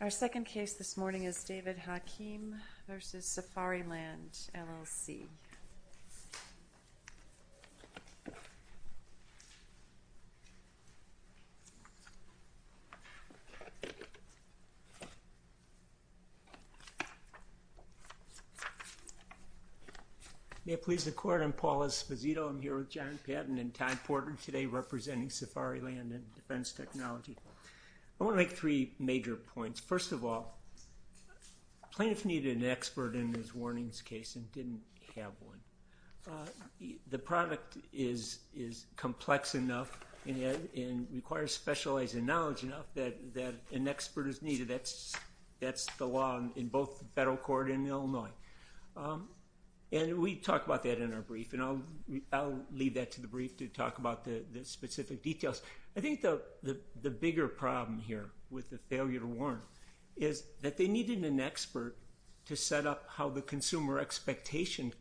Our second case this morning is David Hakim v. Safariland, LLC. May it please the Court, I'm Paul Esposito. I'm here with John Patton and Todd Porter today representing Safariland and Defense Technology. I want to make three major points. First of all, plaintiffs needed an expert in this warnings case and didn't have one. The product is complex enough and requires specialized knowledge enough that an expert is needed. That's the law in both the federal court and in Illinois. And we talk about that in our brief and I'll leave that to the brief to talk about the specific details. I think the bigger problem here with the failure to warn is that they needed an expert to set up how the consumer expectation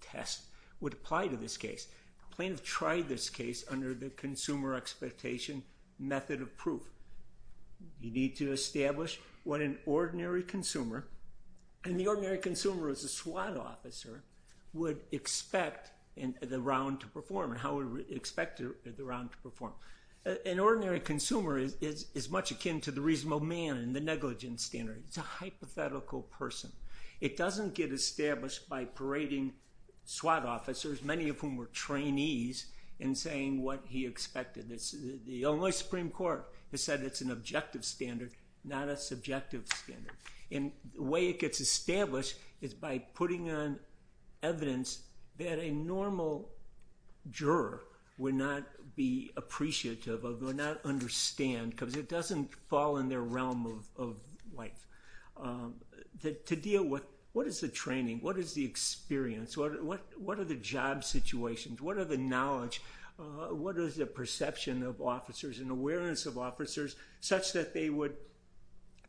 test would apply to this case. The plaintiff tried this case under the consumer expectation method of proof. You need to establish what an ordinary consumer, and the ordinary consumer is a SWAT officer, would expect the round to perform and how it would expect the round to perform. An ordinary consumer is much akin to the reasonable man in the negligence standard. It's a hypothetical person. It doesn't get established by parading SWAT officers, many of whom were trainees, and saying what he expected. The Illinois Supreme Court has said it's an objective standard, not a subjective standard. And the way it gets established is by putting on evidence that a normal juror would not be appreciative of, would not understand, because it doesn't fall in their realm of life. To deal with what is the training? What is the experience? What are the job situations? What are the knowledge? What is the perception of officers and awareness of officers such that they would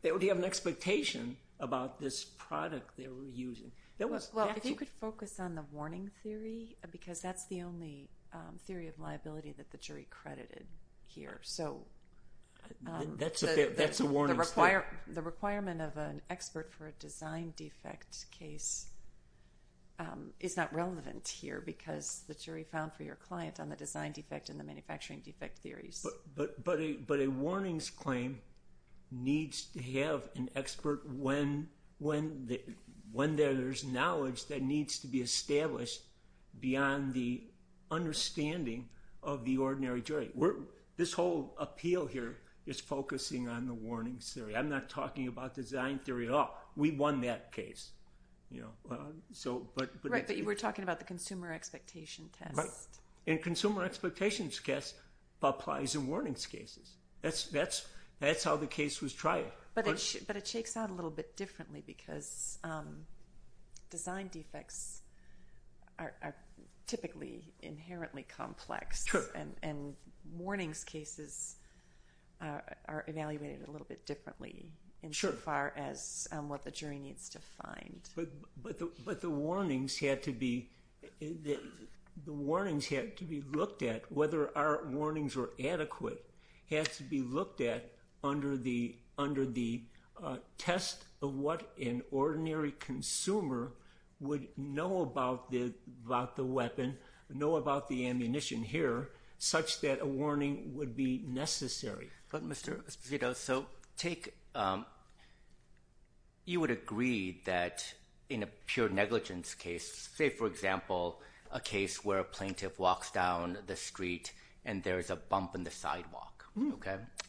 have an expectation about this product they were using? Well, if you could focus on the warning theory, because that's the only theory of liability that the jury credited here. That's a warning statement. The requirement of an expert for a design defect case is not relevant here because the jury found for your client on the design defect and the manufacturing defect theories. But a warnings claim needs to have an expert when there's knowledge that needs to be established beyond the understanding of the ordinary jury. This whole appeal here is focusing on the warnings theory. I'm not talking about design theory at all. We won that case. Right, but you were talking about the consumer expectation test. Right. And consumer expectations test applies in warnings cases. That's how the case was tried. But it shakes out a little bit differently because design defects are typically inherently complex. Sure. And warnings cases are evaluated a little bit differently insofar as what the jury needs to find. But the warnings had to be looked at, whether our warnings were adequate, had to be looked at under the test of what an ordinary consumer would know about the weapon, know about the ammunition here, such that a warning would be necessary. But Mr. Esposito, you would agree that in a pure negligence case, say, for example, a case where a plaintiff walks down the street and there's a bump in the sidewalk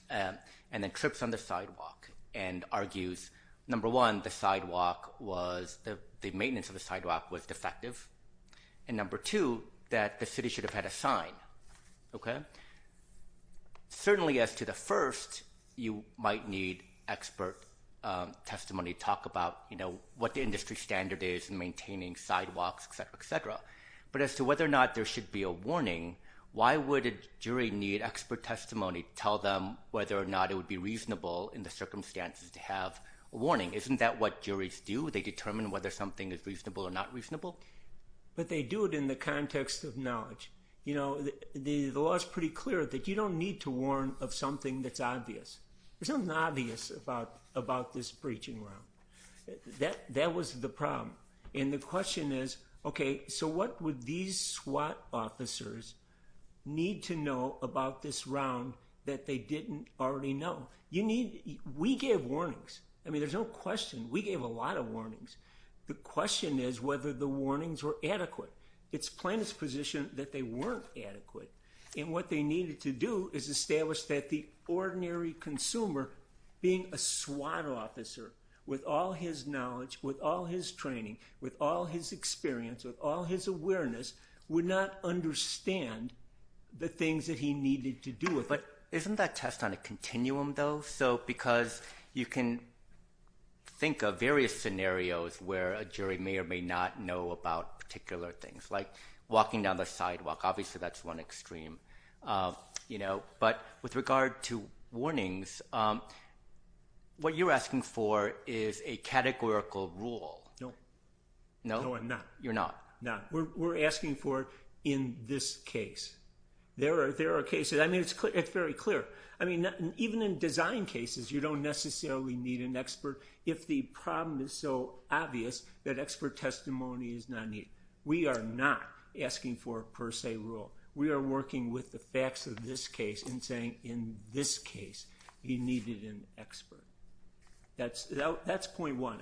and then trips on the sidewalk and argues, number one, the maintenance of the sidewalk was defective, and number two, that the city should have had a sign. Certainly as to the first, you might need expert testimony to talk about what the industry standard is in maintaining sidewalks, et cetera, et cetera. But as to whether or not there should be a warning, why would a jury need expert testimony to tell them whether or not it would be reasonable in the circumstances to have a warning? Isn't that what juries do? They determine whether something is reasonable or not reasonable? But they do it in the context of knowledge. The law is pretty clear that you don't need to warn of something that's obvious. There's nothing obvious about this breaching round. That was the problem. And the question is, okay, so what would these SWAT officers need to know about this round that they didn't already know? We gave warnings. I mean, there's no question. We gave a lot of warnings. The question is whether the warnings were adequate. It's plain as position that they weren't adequate. And what they needed to do is establish that the ordinary consumer, being a SWAT officer, with all his knowledge, with all his training, with all his experience, with all his awareness, would not understand the things that he needed to do. But isn't that test on a continuum, though? Because you can think of various scenarios where a jury may or may not know about particular things, like walking down the sidewalk. Obviously, that's one extreme. But with regard to warnings, what you're asking for is a categorical rule. No. No? No, I'm not. You're not? No. We're asking for in this case. There are cases. I mean, it's very clear. I mean, even in design cases, you don't necessarily need an expert if the problem is so obvious that expert testimony is not needed. We are not asking for a per se rule. We are working with the facts of this case and saying, in this case, you needed an expert. That's point one.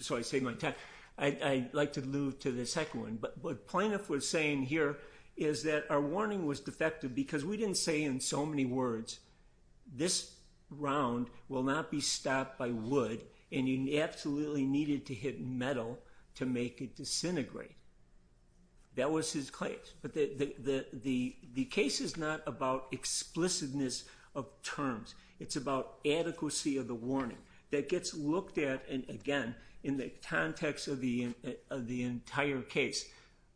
So I saved my time. I'd like to move to the second one. What Plaintiff was saying here is that our warning was defective because we didn't say in so many words, this round will not be stopped by wood and you absolutely needed to hit metal to make it disintegrate. That was his claim. But the case is not about explicitness of terms. It's about adequacy of the warning that gets looked at, and again, in the context of the entire case,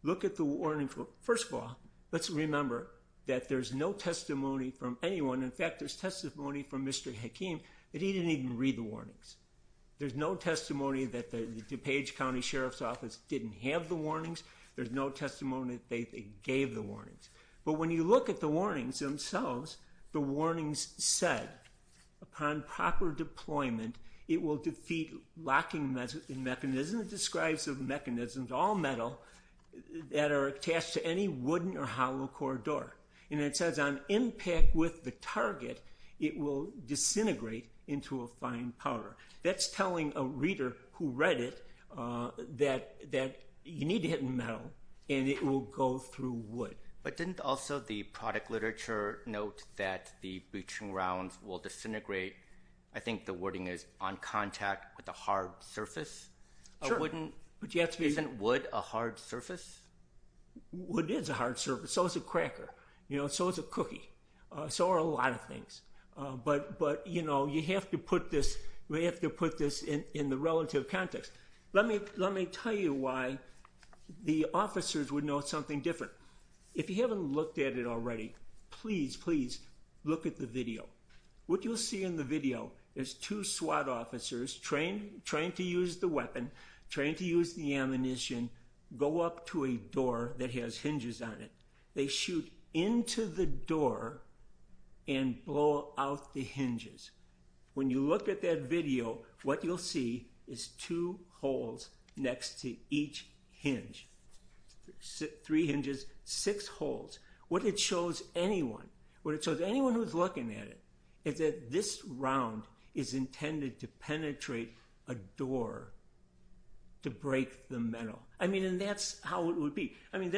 look at the warning. First of all, let's remember that there's no testimony from anyone. In fact, there's testimony from Mr. Hakeem that he didn't even read the warnings. There's no testimony that the DuPage County Sheriff's Office didn't have the warnings. But when you look at the warnings themselves, the warnings said, upon proper deployment, it will defeat locking mechanism. It describes mechanisms, all metal, that are attached to any wooden or hollow corridor. And it says on impact with the target, it will disintegrate into a fine powder. That's telling a reader who read it that you need to hit metal and it will go through wood. But didn't also the product literature note that the breaching rounds will disintegrate? I think the wording is on contact with a hard surface. Sure. Isn't wood a hard surface? Wood is a hard surface. So is a cracker. So is a cookie. So are a lot of things. But you have to put this in the relative context. Let me tell you why the officers would note something different. If you haven't looked at it already, please, please look at the video. What you'll see in the video is two SWAT officers trained to use the weapon, trained to use the ammunition, go up to a door that has hinges on it. They shoot into the door and blow out the hinges. When you look at that video, what you'll see is two holes next to each hinge. Three hinges, six holes. What it shows anyone, what it shows anyone who's looking at it, is that this round is intended to penetrate a door to break the metal. I mean, and that's how it would be. I mean,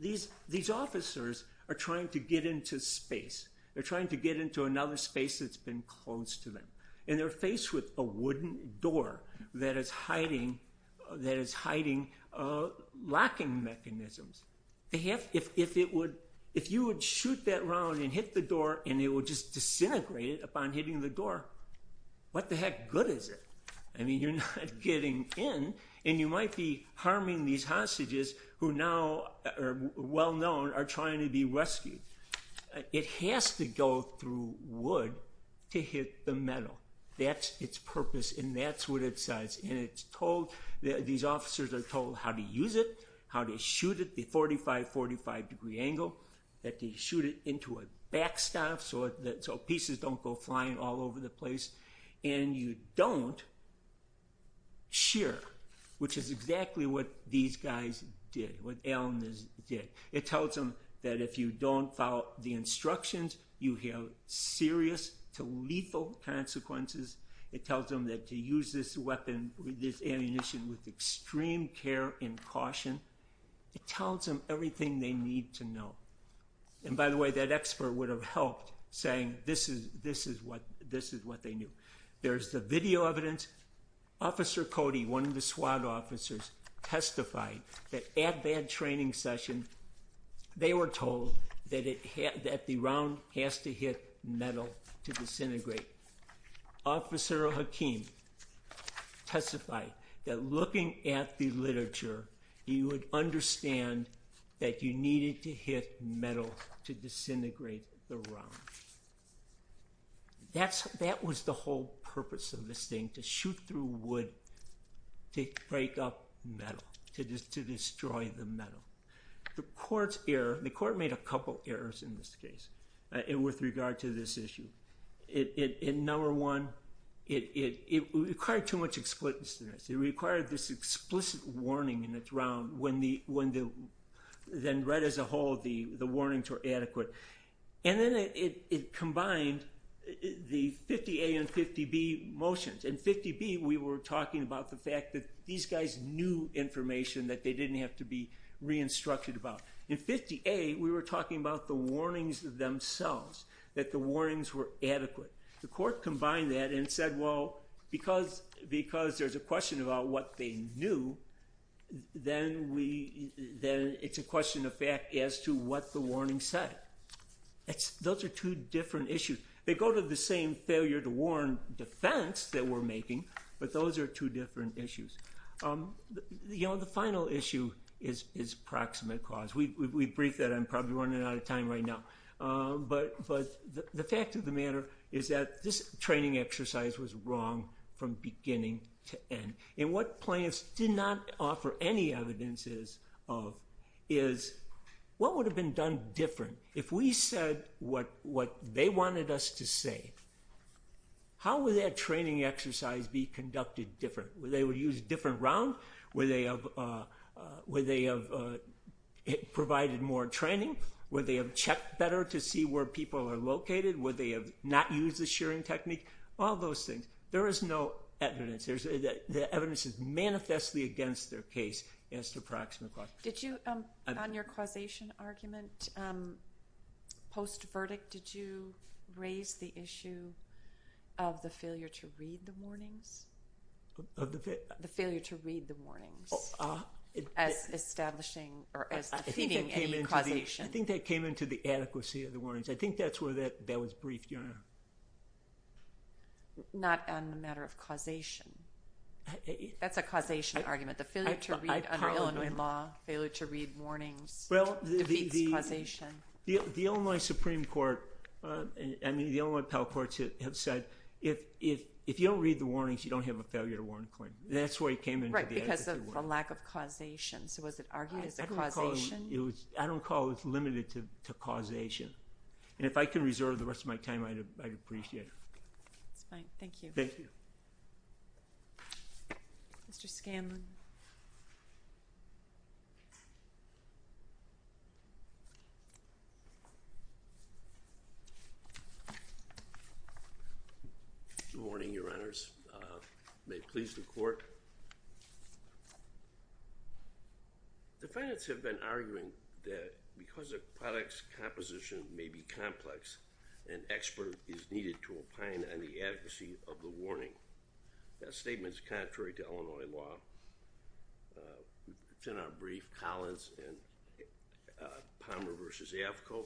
these officers are trying to get into space. They're trying to get into another space that's been closed to them. And they're faced with a wooden door that is hiding locking mechanisms. If you would shoot that round and hit the door and it would just disintegrate upon hitting the door, what the heck good is it? I mean, you're not getting in. And you might be harming these hostages who now are well known are trying to be rescued. It has to go through wood to hit the metal. That's its purpose, and that's what it says. And it's told, these officers are told how to use it, how to shoot it, the 45, 45-degree angle, that they shoot it into a backstop so pieces don't go flying all over the place. And you don't shear, which is exactly what these guys did, what alunas did. It tells them that if you don't follow the instructions, you have serious to lethal consequences. It tells them that to use this ammunition with extreme care and caution. It tells them everything they need to know. And by the way, that expert would have helped saying this is what they knew. There's the video evidence. Officer Cody, one of the SWAT officers, testified that at that training session, they were told that the round has to hit metal to disintegrate. Officer Hakim testified that looking at the literature, he would understand that you needed to hit metal to disintegrate the round. That was the whole purpose of this thing, to shoot through wood to break up metal, to destroy the metal. The court made a couple errors in this case with regard to this issue. Number one, it required too much explicitness. It required this explicit warning in the round. Then right as a whole, the warnings were adequate. Then it combined the 50A and 50B motions. In 50B, we were talking about the fact that these guys knew information that they didn't have to be re-instructed about. In 50A, we were talking about the warnings themselves, that the warnings were adequate. The court combined that and said, well, because there's a question about what they knew, then it's a question of fact as to what the warning said. Those are two different issues. They go to the same failure to warn defense that we're making, but those are two different issues. The final issue is proximate cause. We've briefed that. I'm probably running out of time right now. The fact of the matter is that this training exercise was wrong from beginning to end. What plaintiffs did not offer any evidence of is what would have been done different if we said what they wanted us to say? How would that training exercise be conducted different? Would they have used a different round? Would they have provided more training? Would they have checked better to see where people are located? Would they have not used the shearing technique? All those things. There is no evidence. The evidence is manifestly against their case as to proximate cause. Did you, on your causation argument, post-verdict, did you raise the issue of the failure to read the warnings? The failure to read the warnings as establishing or as defeating any causation. I think that came into the adequacy of the warnings. I think that's where that was briefed, Your Honor. Not on the matter of causation. That's a causation argument. The failure to read under Illinois law, failure to read warnings defeats causation. The Illinois Supreme Court and the Illinois Appellate Courts have said if you don't read the warnings, you don't have a failure to warn claim. That's where it came into the adequacy of the warnings. Right, because of the lack of causation. So was it argued as a causation? I don't call it limited to causation. And if I can reserve the rest of my time, I'd appreciate it. That's fine. Thank you. Thank you. Mr. Scanlon. May it please the Court. The defendants have been arguing that because a product's composition may be complex, an expert is needed to opine on the adequacy of the warning. That statement is contrary to Illinois law. It's in our brief, Collins and Palmer v. Avco.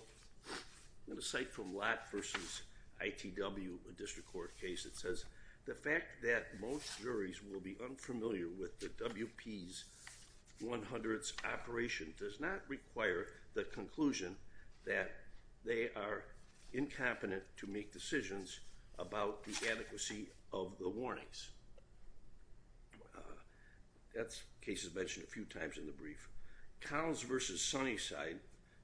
In a cite from Lott v. ITW, a district court case, it says, the fact that most juries will be unfamiliar with the WP's 100th operation does not require the conclusion that they are incompetent to make decisions about the adequacy of the warnings. That case is mentioned a few times in the brief. Collins v. Sunnyside,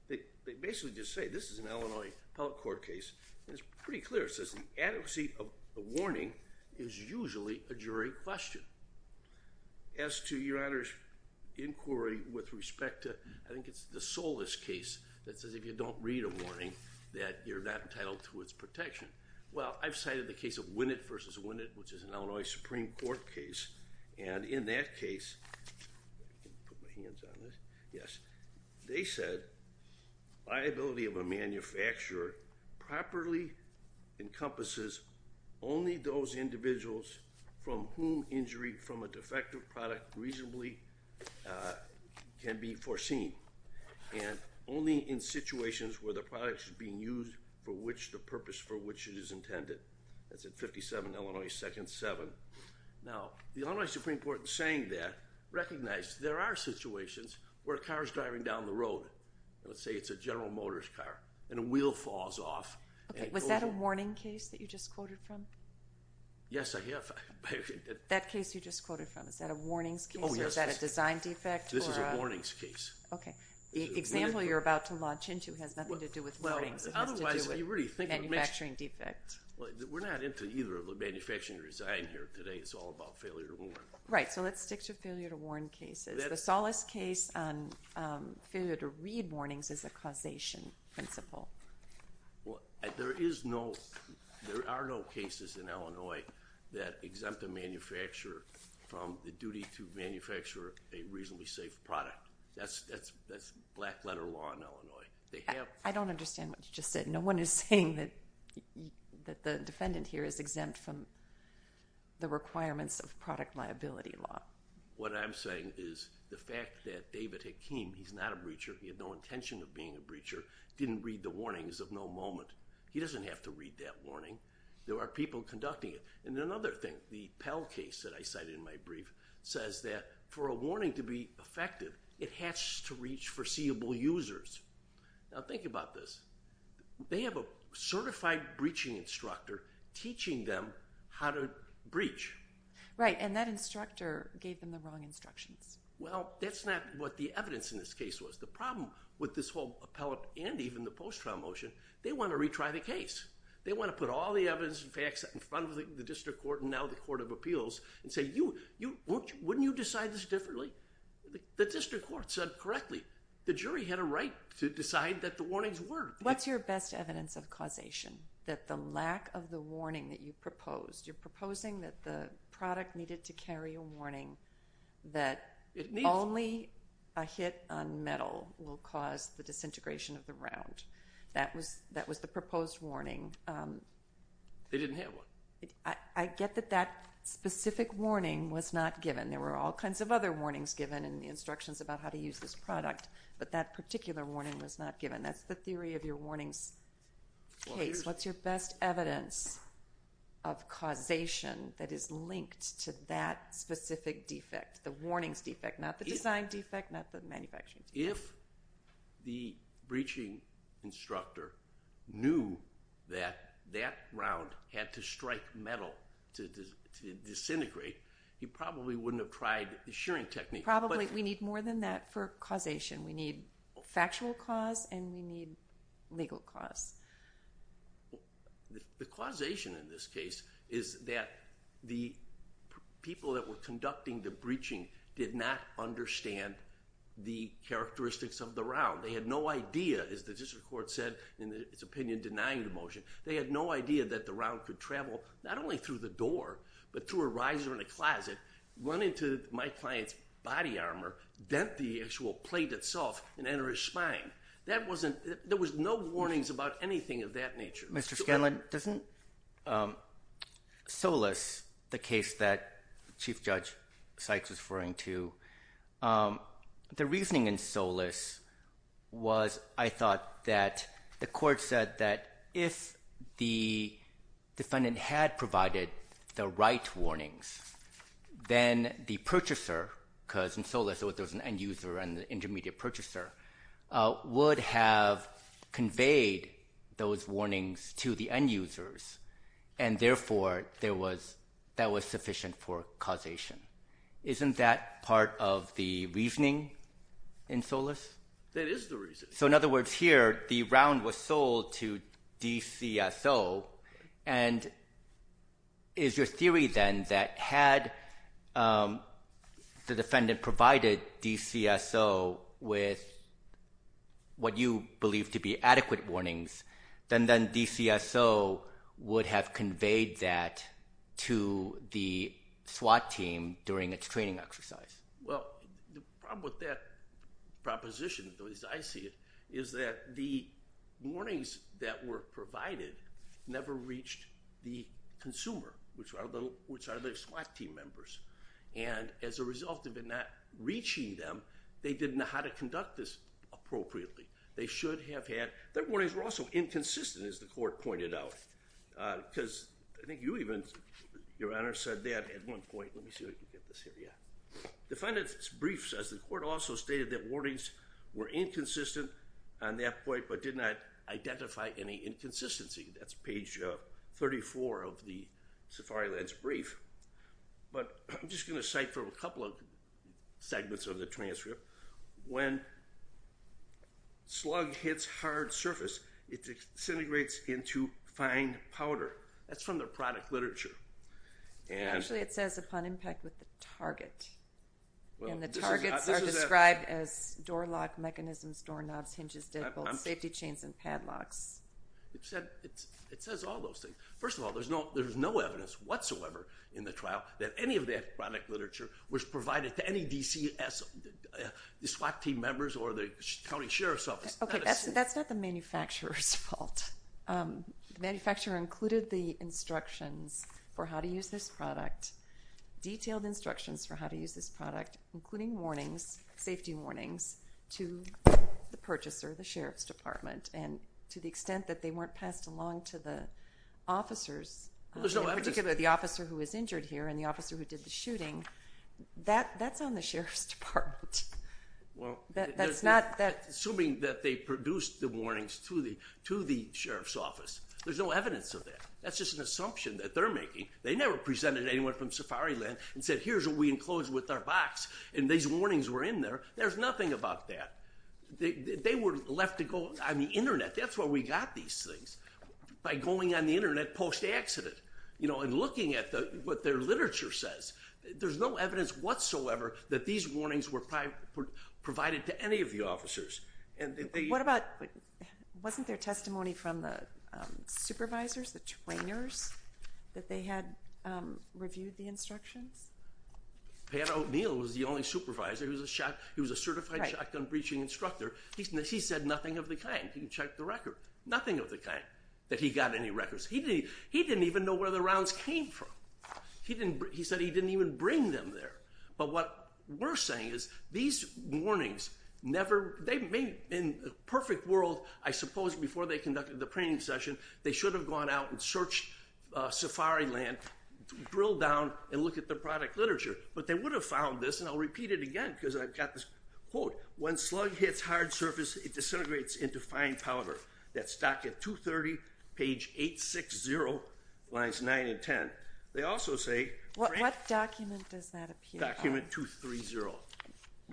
they basically just say, this is an Illinois appellate court case, and it's pretty clear. It says the adequacy of the warning is usually a jury question. As to Your Honor's inquiry with respect to, I think it's the Solis case that says, if you don't read a warning, that you're not entitled to its protection. Well, I've cited the case of Winnett v. Winnett, which is an Illinois Supreme Court case, and in that case, let me put my hands on this, yes, they said liability of a manufacturer properly encompasses only those individuals from whom injury from a defective product reasonably can be foreseen, and only in situations where the product is being used for which the purpose for which it is intended. That's at 57 Illinois 2nd 7th. Now, the Illinois Supreme Court, in saying that, has recognized there are situations where a car is driving down the road, and let's say it's a General Motors car, and a wheel falls off. Okay. Was that a warning case that you just quoted from? Yes, I have. That case you just quoted from, is that a warnings case? Oh, yes. Or is that a design defect? This is a warnings case. Okay. The example you're about to launch into has nothing to do with warnings. It has to do with manufacturing defect. We're not into either of the manufacturing or design here today. It's all about failure to warn. Right. Let's stick to failure to warn cases. The Solace case on failure to read warnings is a causation principle. There are no cases in Illinois that exempt a manufacturer from the duty to manufacture a reasonably safe product. That's black-letter law in Illinois. I don't understand what you just said. No one is saying that the defendant here is exempt from the requirements of product liability law. What I'm saying is the fact that David Hakeem, he's not a breacher, he had no intention of being a breacher, didn't read the warnings of no moment. He doesn't have to read that warning. There are people conducting it. And another thing, the Pell case that I cited in my brief, says that for a warning to be effective, it has to reach foreseeable users. Now, think about this. They have a certified breaching instructor teaching them how to breach. Right, and that instructor gave them the wrong instructions. Well, that's not what the evidence in this case was. The problem with this whole appellate and even the post-trial motion, they want to retry the case. They want to put all the evidence and facts in front of the district court and now the court of appeals and say, wouldn't you decide this differently? The district court said correctly. The jury had a right to decide that the warnings worked. What's your best evidence of causation? That the lack of the warning that you proposed, you're proposing that the product needed to carry a warning that only a hit on metal will cause the disintegration of the round. That was the proposed warning. They didn't have one. I get that that specific warning was not given. There were all kinds of other warnings given and the instructions about how to use this product, but that particular warning was not given. That's the theory of your warnings case. What's your best evidence of causation that is linked to that specific defect, the warnings defect, not the design defect, not the manufacturing defect? If the breaching instructor knew that that round had to strike metal to disintegrate, he probably wouldn't have tried the shearing technique. We need more than that for causation. We need factual cause and we need legal cause. The causation in this case is that the people that were conducting the breaching did not understand the characteristics of the round. They had no idea, as the district court said in its opinion denying the motion, they had no idea that the round could travel not only through the door, but through a riser in a closet, run into my client's body armor, dent the actual plate itself, and enter his spine. There was no warnings about anything of that nature. Mr. Scanlon, doesn't Solis, the case that Chief Judge Sykes was referring to, the reasoning in Solis was, I thought, that the court said that if the defendant had provided the right warnings, then the purchaser, because in Solis there was an end user and an intermediate purchaser, would have conveyed those warnings to the end users, and therefore that was sufficient for causation. Isn't that part of the reasoning in Solis? That is the reasoning. So in other words here, the round was sold to DCSO, and is your theory then that had the defendant provided DCSO with what you believe to be adequate warnings, then DCSO would have conveyed that to the SWAT team during its training exercise? Well, the problem with that proposition, at least I see it, is that the warnings that were provided never reached the consumer, which are the SWAT team members. And as a result of it not reaching them, they didn't know how to conduct this appropriately. They should have had the warnings were also inconsistent, as the court pointed out, because I think you even, Your Honor, said that at one point. Let me see if I can get this here. The defendant's brief says the court also stated that warnings were inconsistent on that point but did not identify any inconsistency. That's page 34 of the Safariland's brief. But I'm just going to cite from a couple of segments of the transcript. When slug hits hard surface, it disintegrates into fine powder. That's from the product literature. Actually, it says upon impact with the target. And the targets are described as door lock mechanisms, doorknobs, hinges, safety chains, and padlocks. It says all those things. First of all, there's no evidence whatsoever in the trial that any of that product literature was provided to any DCS SWAT team members or the county sheriff's office. That's not the manufacturer's fault. The manufacturer included the instructions for how to use this product, detailed instructions for how to use this product, including warnings, safety warnings, to the purchaser, the sheriff's department. And to the extent that they weren't passed along to the officers, particularly the officer who was injured here and the officer who did the shooting, that's on the sheriff's department. Assuming that they produced the warnings to the sheriff's office, there's no evidence of that. That's just an assumption that they're making. They never presented anyone from Safariland and said, here's what we enclosed with our box, and these warnings were in there. There's nothing about that. They were left to go on the Internet. That's where we got these things, by going on the Internet post-accident and looking at what their literature says. There's no evidence whatsoever that these warnings were provided to any of the officers. Wasn't there testimony from the supervisors, the trainers, that they had reviewed the instructions? Pat O'Neill was the only supervisor. He was a certified shotgun breaching instructor. He said nothing of the kind. He checked the record. Nothing of the kind that he got any records. He didn't even know where the rounds came from. He said he didn't even bring them there. But what we're saying is these warnings never, they may, in a perfect world, I suppose before they conducted the training session, they should have gone out and searched Safariland, drilled down and looked at the product literature. But they would have found this, and I'll repeat it again, because I've got this quote. When slug hits hard surface, it disintegrates into fine powder. That's docket 230, page 860, lines 9 and 10. They also say. What document does that appear on? Document 230.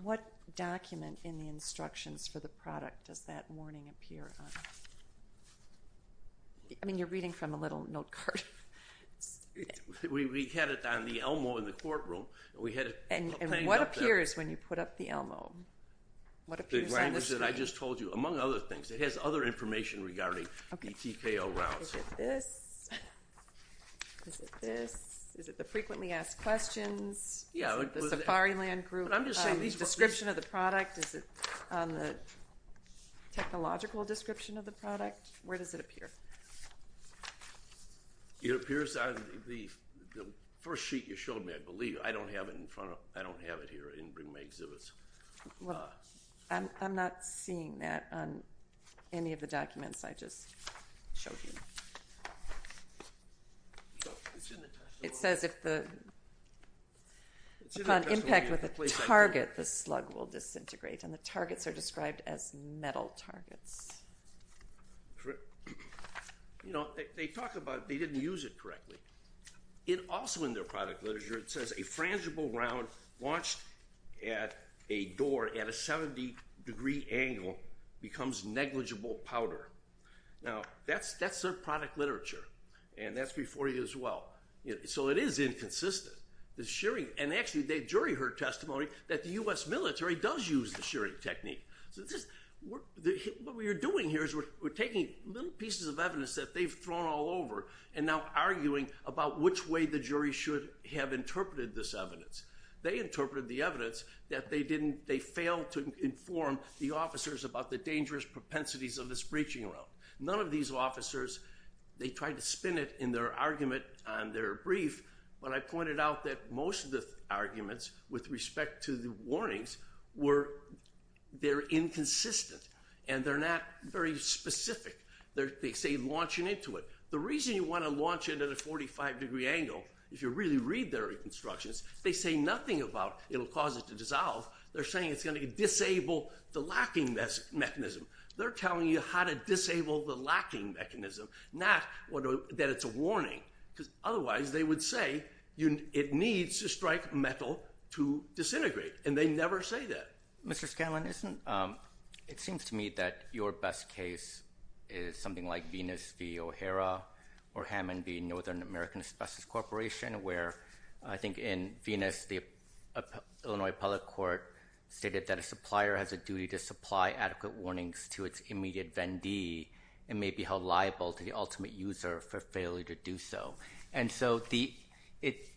What document in the instructions for the product does that warning appear on? I mean, you're reading from a little note card. We had it on the Elmo in the courtroom. And what appears when you put up the Elmo? The reminders that I just told you, among other things. It has other information regarding the TKO rounds. Is it this? Is it this? Is it the frequently asked questions? Is it the Safariland group description of the product? Is it on the technological description of the product? Where does it appear? It appears on the first sheet you showed me, I believe. I don't have it in front of me. I don't have it here in my exhibits. I'm not seeing that on any of the documents I just showed you. It says if the impact with a target, the slug will disintegrate. And the targets are described as metal targets. They talk about they didn't use it correctly. Also in their product literature, it says a frangible round launched at a door at a 70 degree angle becomes negligible powder. Now, that's their product literature. And that's before you as well. So it is inconsistent. The shearing, and actually the jury heard testimony that the U.S. military does use the shearing technique. What we are doing here is we're taking little pieces of evidence that we're now arguing about which way the jury should have interpreted this evidence. They interpreted the evidence that they didn't, they failed to inform the officers about the dangerous propensities of this breaching round. None of these officers, they tried to spin it in their argument on their brief, but I pointed out that most of the arguments with respect to the warnings were, they're inconsistent. And they're not very specific. They say launching into it. The reason you want to launch it at a 45 degree angle, if you really read their instructions, they say nothing about it will cause it to dissolve. They're saying it's going to disable the locking mechanism. They're telling you how to disable the locking mechanism, not that it's a warning, because otherwise they would say it needs to strike metal to disintegrate, and they never say that. Mr. Scanlon, it seems to me that your best case is something like Venus v. O'Hara, or Hammond v. Northern American Asbestos Corporation, where I think in Venus, the Illinois public court stated that a supplier has a duty to supply adequate warnings to its immediate vendee and may be held liable to the ultimate user for failure to do so. And so it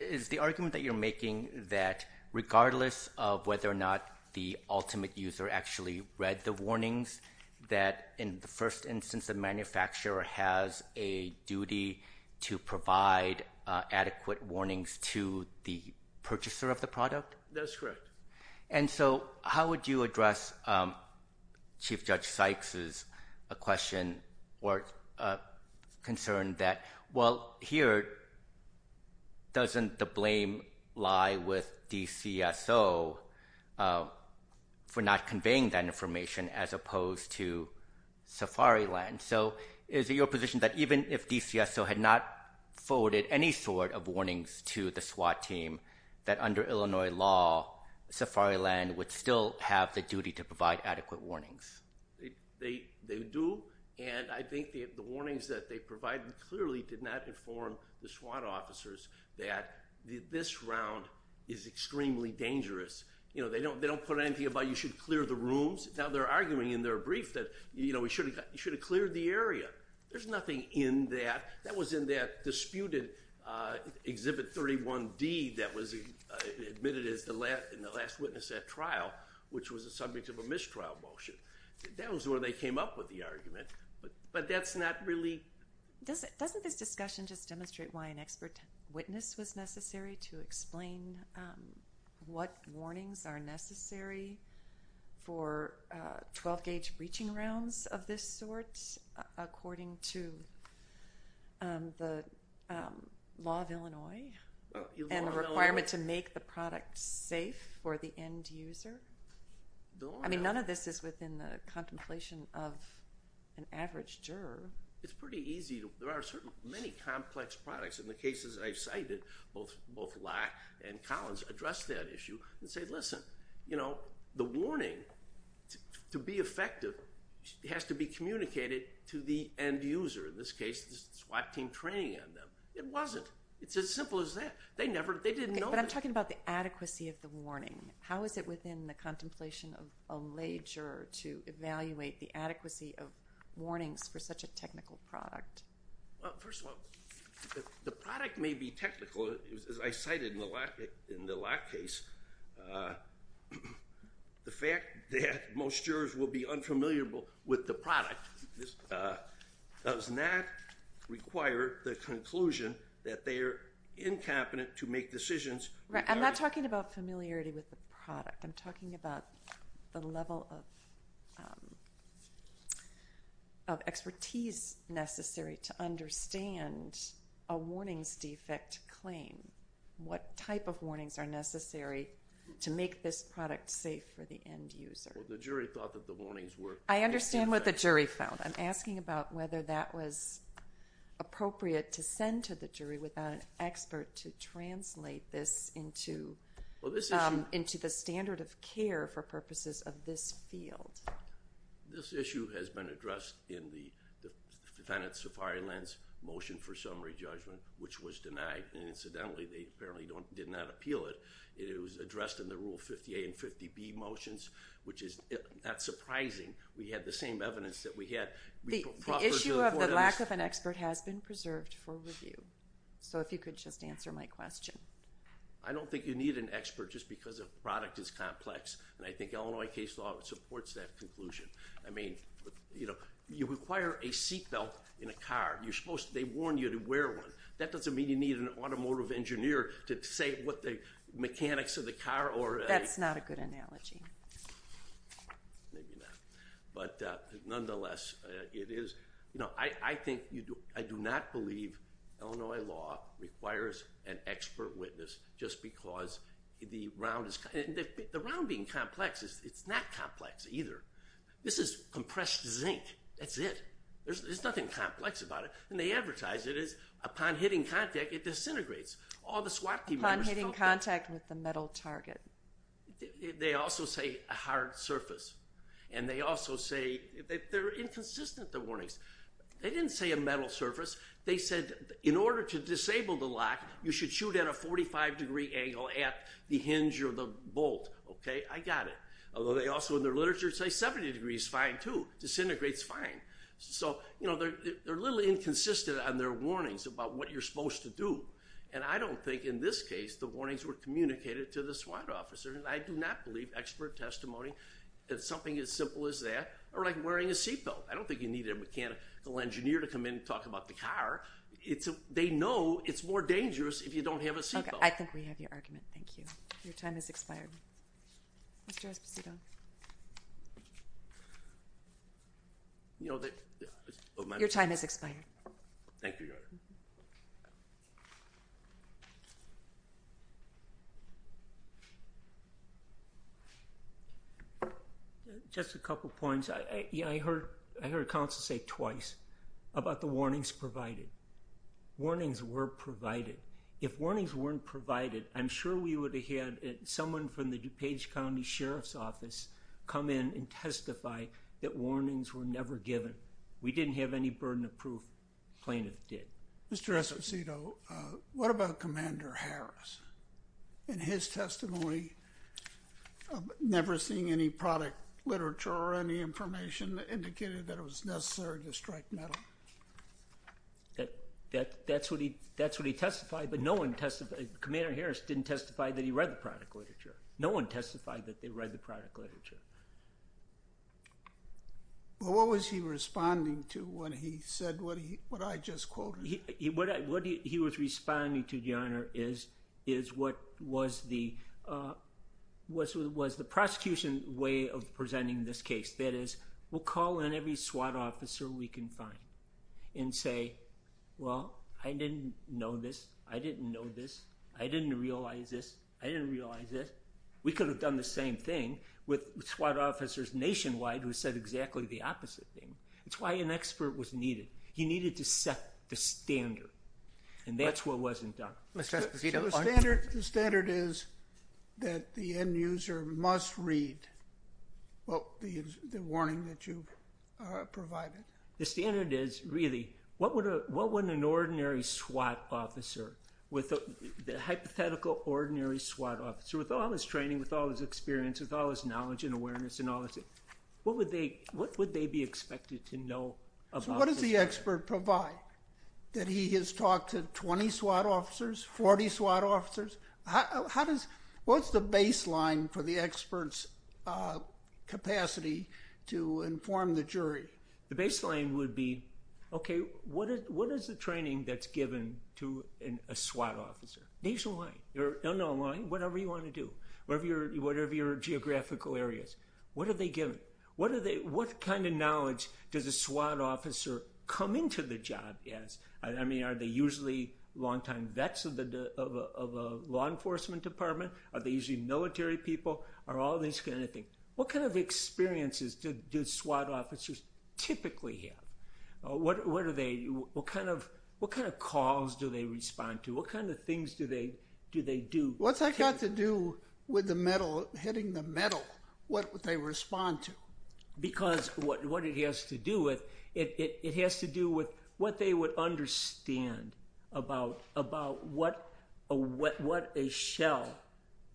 is the argument that you're making that regardless of whether or not the ultimate user actually read the warnings, that in the first instance the manufacturer has a duty to provide adequate warnings to the purchaser of the product? That's correct. And so how would you address Chief Judge Sykes' question or concern that, well, here doesn't the blame lie with DCSO for not conveying that warning? So is it your position that even if DCSO had not forwarded any sort of warnings to the SWAT team, that under Illinois law, Safariland would still have the duty to provide adequate warnings? They do, and I think the warnings that they provided clearly did not inform the SWAT officers that this round is extremely dangerous. They don't put anything about you should clear the rooms. Now, they're arguing in their brief that you should have cleared the area. There's nothing in that. That was in that disputed Exhibit 31D that was admitted as the last witness at trial, which was the subject of a mistrial motion. That was where they came up with the argument, but that's not really. Doesn't this discussion just demonstrate why an expert witness was necessary to explain what warnings are necessary for 12-gauge breaching rounds of this sort according to the law of Illinois and the requirement to make the product safe for the end user? I mean, none of this is within the contemplation of an average juror. It's pretty easy. There are certainly many complex products. In the cases I've cited, both Locke and Collins addressed that issue and said, listen, the warning, to be effective, has to be communicated to the end user. In this case, the SWAT team training on them. It wasn't. It's as simple as that. They didn't know that. But I'm talking about the adequacy of the warning. How is it within the contemplation of a lay juror to evaluate the adequacy of warnings for such a technical product? Well, first of all, the product may be technical. As I cited in the Locke case, the fact that most jurors will be unfamiliar with the product does not require the conclusion that they are incompetent to make decisions. I'm not talking about familiarity with the product. I'm talking about the level of expertise necessary to understand a warnings defect claim, what type of warnings are necessary to make this product safe for the end user. Well, the jury thought that the warnings were. I understand what the jury felt. I'm asking about whether that was appropriate to send to the jury without an expert to translate this into the standard of care for purposes of this field. This issue has been addressed in the defendant's Safari Lens Motion for Summary Judgment, which was denied. Incidentally, they apparently did not appeal it. It was addressed in the Rule 50A and 50B motions, which is not surprising. We had the same evidence that we had. If you could just answer my question. I don't think you need an expert just because a product is complex. I think Illinois case law supports that conclusion. You require a seatbelt in a car. They warn you to wear one. That doesn't mean you need an automotive engineer to say what the mechanics of the car or... That's not a good analogy. Maybe not. Nonetheless, it is. I do not believe Illinois law requires an expert witness just because the round is... The round being complex, it's not complex either. This is compressed zinc. That's it. There's nothing complex about it. They advertise it as upon hitting contact, it disintegrates. Upon hitting contact with the metal target. They also say a hard surface. They're inconsistent, the warnings. They didn't say a metal surface. They said in order to disable the lock, you should shoot at a 45-degree angle at the hinge or the bolt. I got it. Although they also in their literature say 70 degrees is fine too. Disintegrates fine. They're a little inconsistent on their warnings about what you're supposed to do. I don't think in this case the warnings were communicated to the SWAT officer. I do not believe expert testimony is something as simple as that. Or like wearing a seatbelt. I don't think you need a mechanical engineer to come in and talk about the car. They know it's more dangerous if you don't have a seatbelt. I think we have your argument. Thank you. Your time has expired. Mr. Esposito. Your time has expired. Thank you, Your Honor. Just a couple points. I heard counsel say twice about the warnings provided. Warnings were provided. If warnings weren't provided, I'm sure we would have had someone from the DuPage County Sheriff's Office come in and testify that warnings were never given. We didn't have any burden of proof. Plaintiff did. Mr. Esposito, what about Commander Harris and his testimony of never seeing any product literature or any information that indicated that it was necessary to strike metal? That's what he testified, but no one testified. Commander Harris didn't testify that he read the product literature. No one testified that they read the product literature. Well, what was he responding to when he said what I just quoted? What he was responding to, Your Honor, is what was the prosecution way of presenting this case. That is, we'll call in every SWAT officer we can find and say, well, I didn't know this. I didn't know this. I didn't realize this. I didn't realize this. We could have done the same thing with SWAT officers nationwide who said exactly the opposite thing. That's why an expert was needed. He needed to set the standard, and that's what wasn't done. Mr. Esposito, the standard is that the end user must read the warning that you provided. The standard is, really, what would an ordinary SWAT officer, the hypothetical ordinary SWAT officer, with all his training, with all his experience, with all his knowledge and awareness and all this, what would they be expected to know about this case? So what does the expert provide? That he has talked to 20 SWAT officers, 40 SWAT officers? What's the baseline for the expert's capacity to inform the jury? The baseline would be, okay, what is the training that's given to a SWAT officer? Nationwide or non-online, whatever you want to do, whatever your geographical area is. What are they given? What kind of knowledge does a SWAT officer come into the job as? I mean, are they usually long-time vets of a law enforcement department? Are they usually military people? Are all these kind of things. What kind of experiences do SWAT officers typically have? What kind of calls do they respond to? What kind of things do they do? What's that got to do with the metal, hitting the metal? What would they respond to? Because what it has to do with, it has to do with what they would understand about what a shell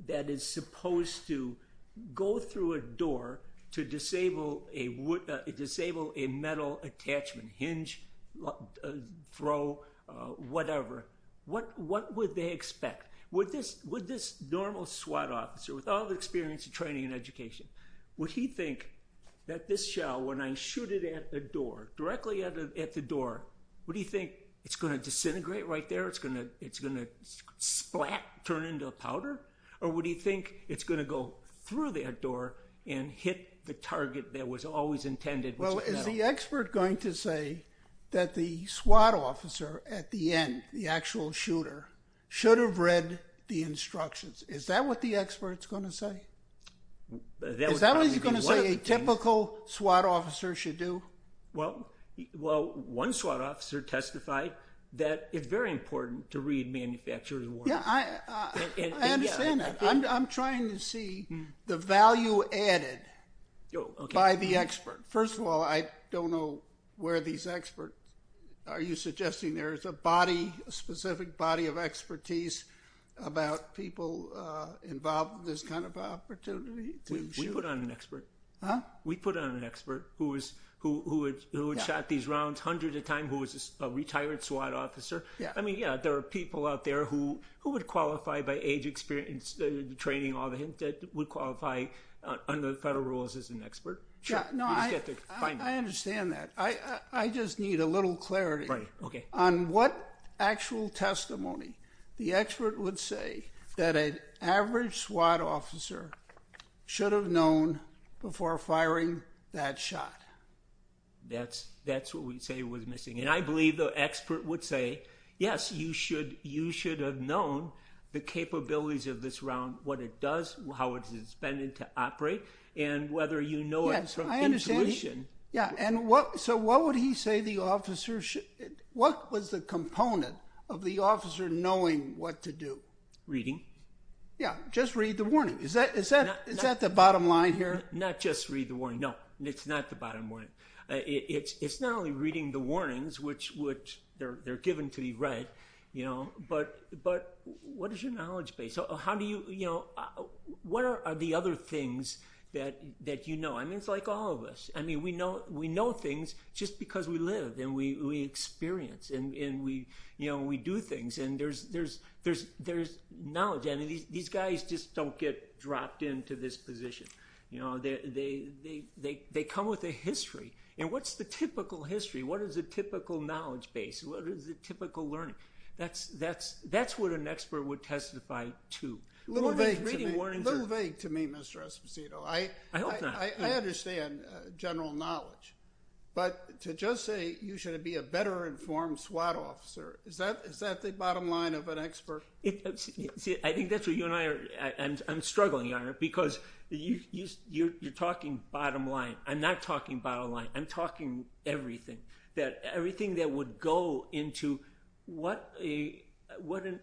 that is supposed to go through a door to disable a metal attachment, hinge, throw, whatever. What would they expect? Would this normal SWAT officer, with all the experience and training and education, would he think that this shell, when I shoot it at the door, directly at the door, would he think it's going to disintegrate right there, it's going to splat, turn into a powder? Or would he think it's going to go through that door and hit the target that was always intended? Well, is the expert going to say that the SWAT officer at the end, the actual shooter, should have read the instructions? Is that what the expert's going to say? Is that what he's going to say a typical SWAT officer should do? Well, one SWAT officer testified that it's very important to read manufacturer's warnings. Yeah, I understand that. I'm trying to see the value added by the expert. First of all, I don't know where these experts, are you suggesting there is a body, a specific body of expertise about people involved with this kind of opportunity to shoot? We put on an expert. Huh? We put on an expert who had shot these rounds hundreds of times, who was a retired SWAT officer. I mean, yeah, there are people out there who would qualify by age, experience, training, all that would qualify under the federal rules as an expert. I understand that. I just need a little clarity on what actual testimony the expert would say that an average SWAT officer should have known before firing that shot. That's what we'd say was missing. And I believe the expert would say, yes, you should have known the capabilities of this round, what it does, how it's intended to operate, and whether you know it from intuition. Yeah, I understand. Yeah, and so what would he say the officer should, what was the component of the officer knowing what to do? Reading. Yeah, just read the warning. Is that the bottom line here? Not just read the warning. No, it's not the bottom line. It's not only reading the warnings, which they're given to be read, you know, but what is your knowledge base? How do you, you know, what are the other things that you know? I mean, it's like all of us. I mean, we know things just because we live and we experience and, you know, we do things. And there's knowledge. I mean, these guys just don't get dropped into this position. You know, they come with a history. And what's the typical history? What is the typical knowledge base? What is the typical learning? That's what an expert would testify to. Little vague to me, Mr. Esposito. I hope not. But to just say you should be a better informed SWAT officer, is that the bottom line of an expert? I think that's what you and I are. I'm struggling on it because you're talking bottom line. I'm not talking bottom line. I'm talking everything. Everything that would go into what an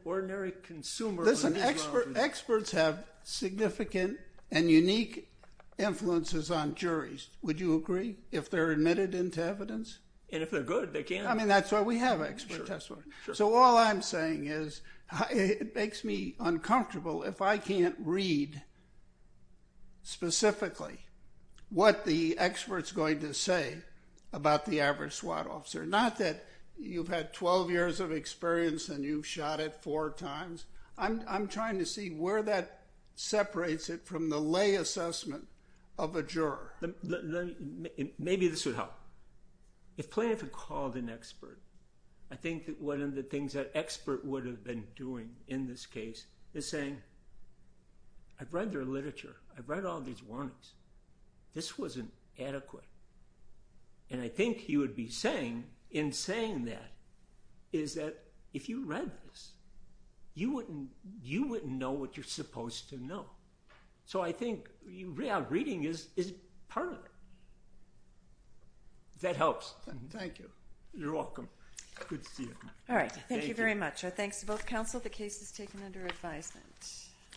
ordinary consumer. Listen, experts have significant and unique influences on juries. Would you agree? If they're admitted into evidence? And if they're good, they can. I mean, that's why we have expert testimony. So all I'm saying is it makes me uncomfortable if I can't read specifically what the expert's going to say about the average SWAT officer. Not that you've had 12 years of experience and you've shot it four times. I'm trying to see where that separates it from the lay assessment of a juror. Maybe this would help. If Planoff had called an expert, I think that one of the things that expert would have been doing in this case is saying, I've read their literature. I've read all these warnings. This wasn't adequate. And I think he would be saying, in saying that, is that if you read this, you wouldn't know what you're supposed to know. So I think reading is part of it. If that helps. Thank you. You're welcome. Good to see you. All right. Thank you very much. Our thanks to both counsel. The case is taken under advisement.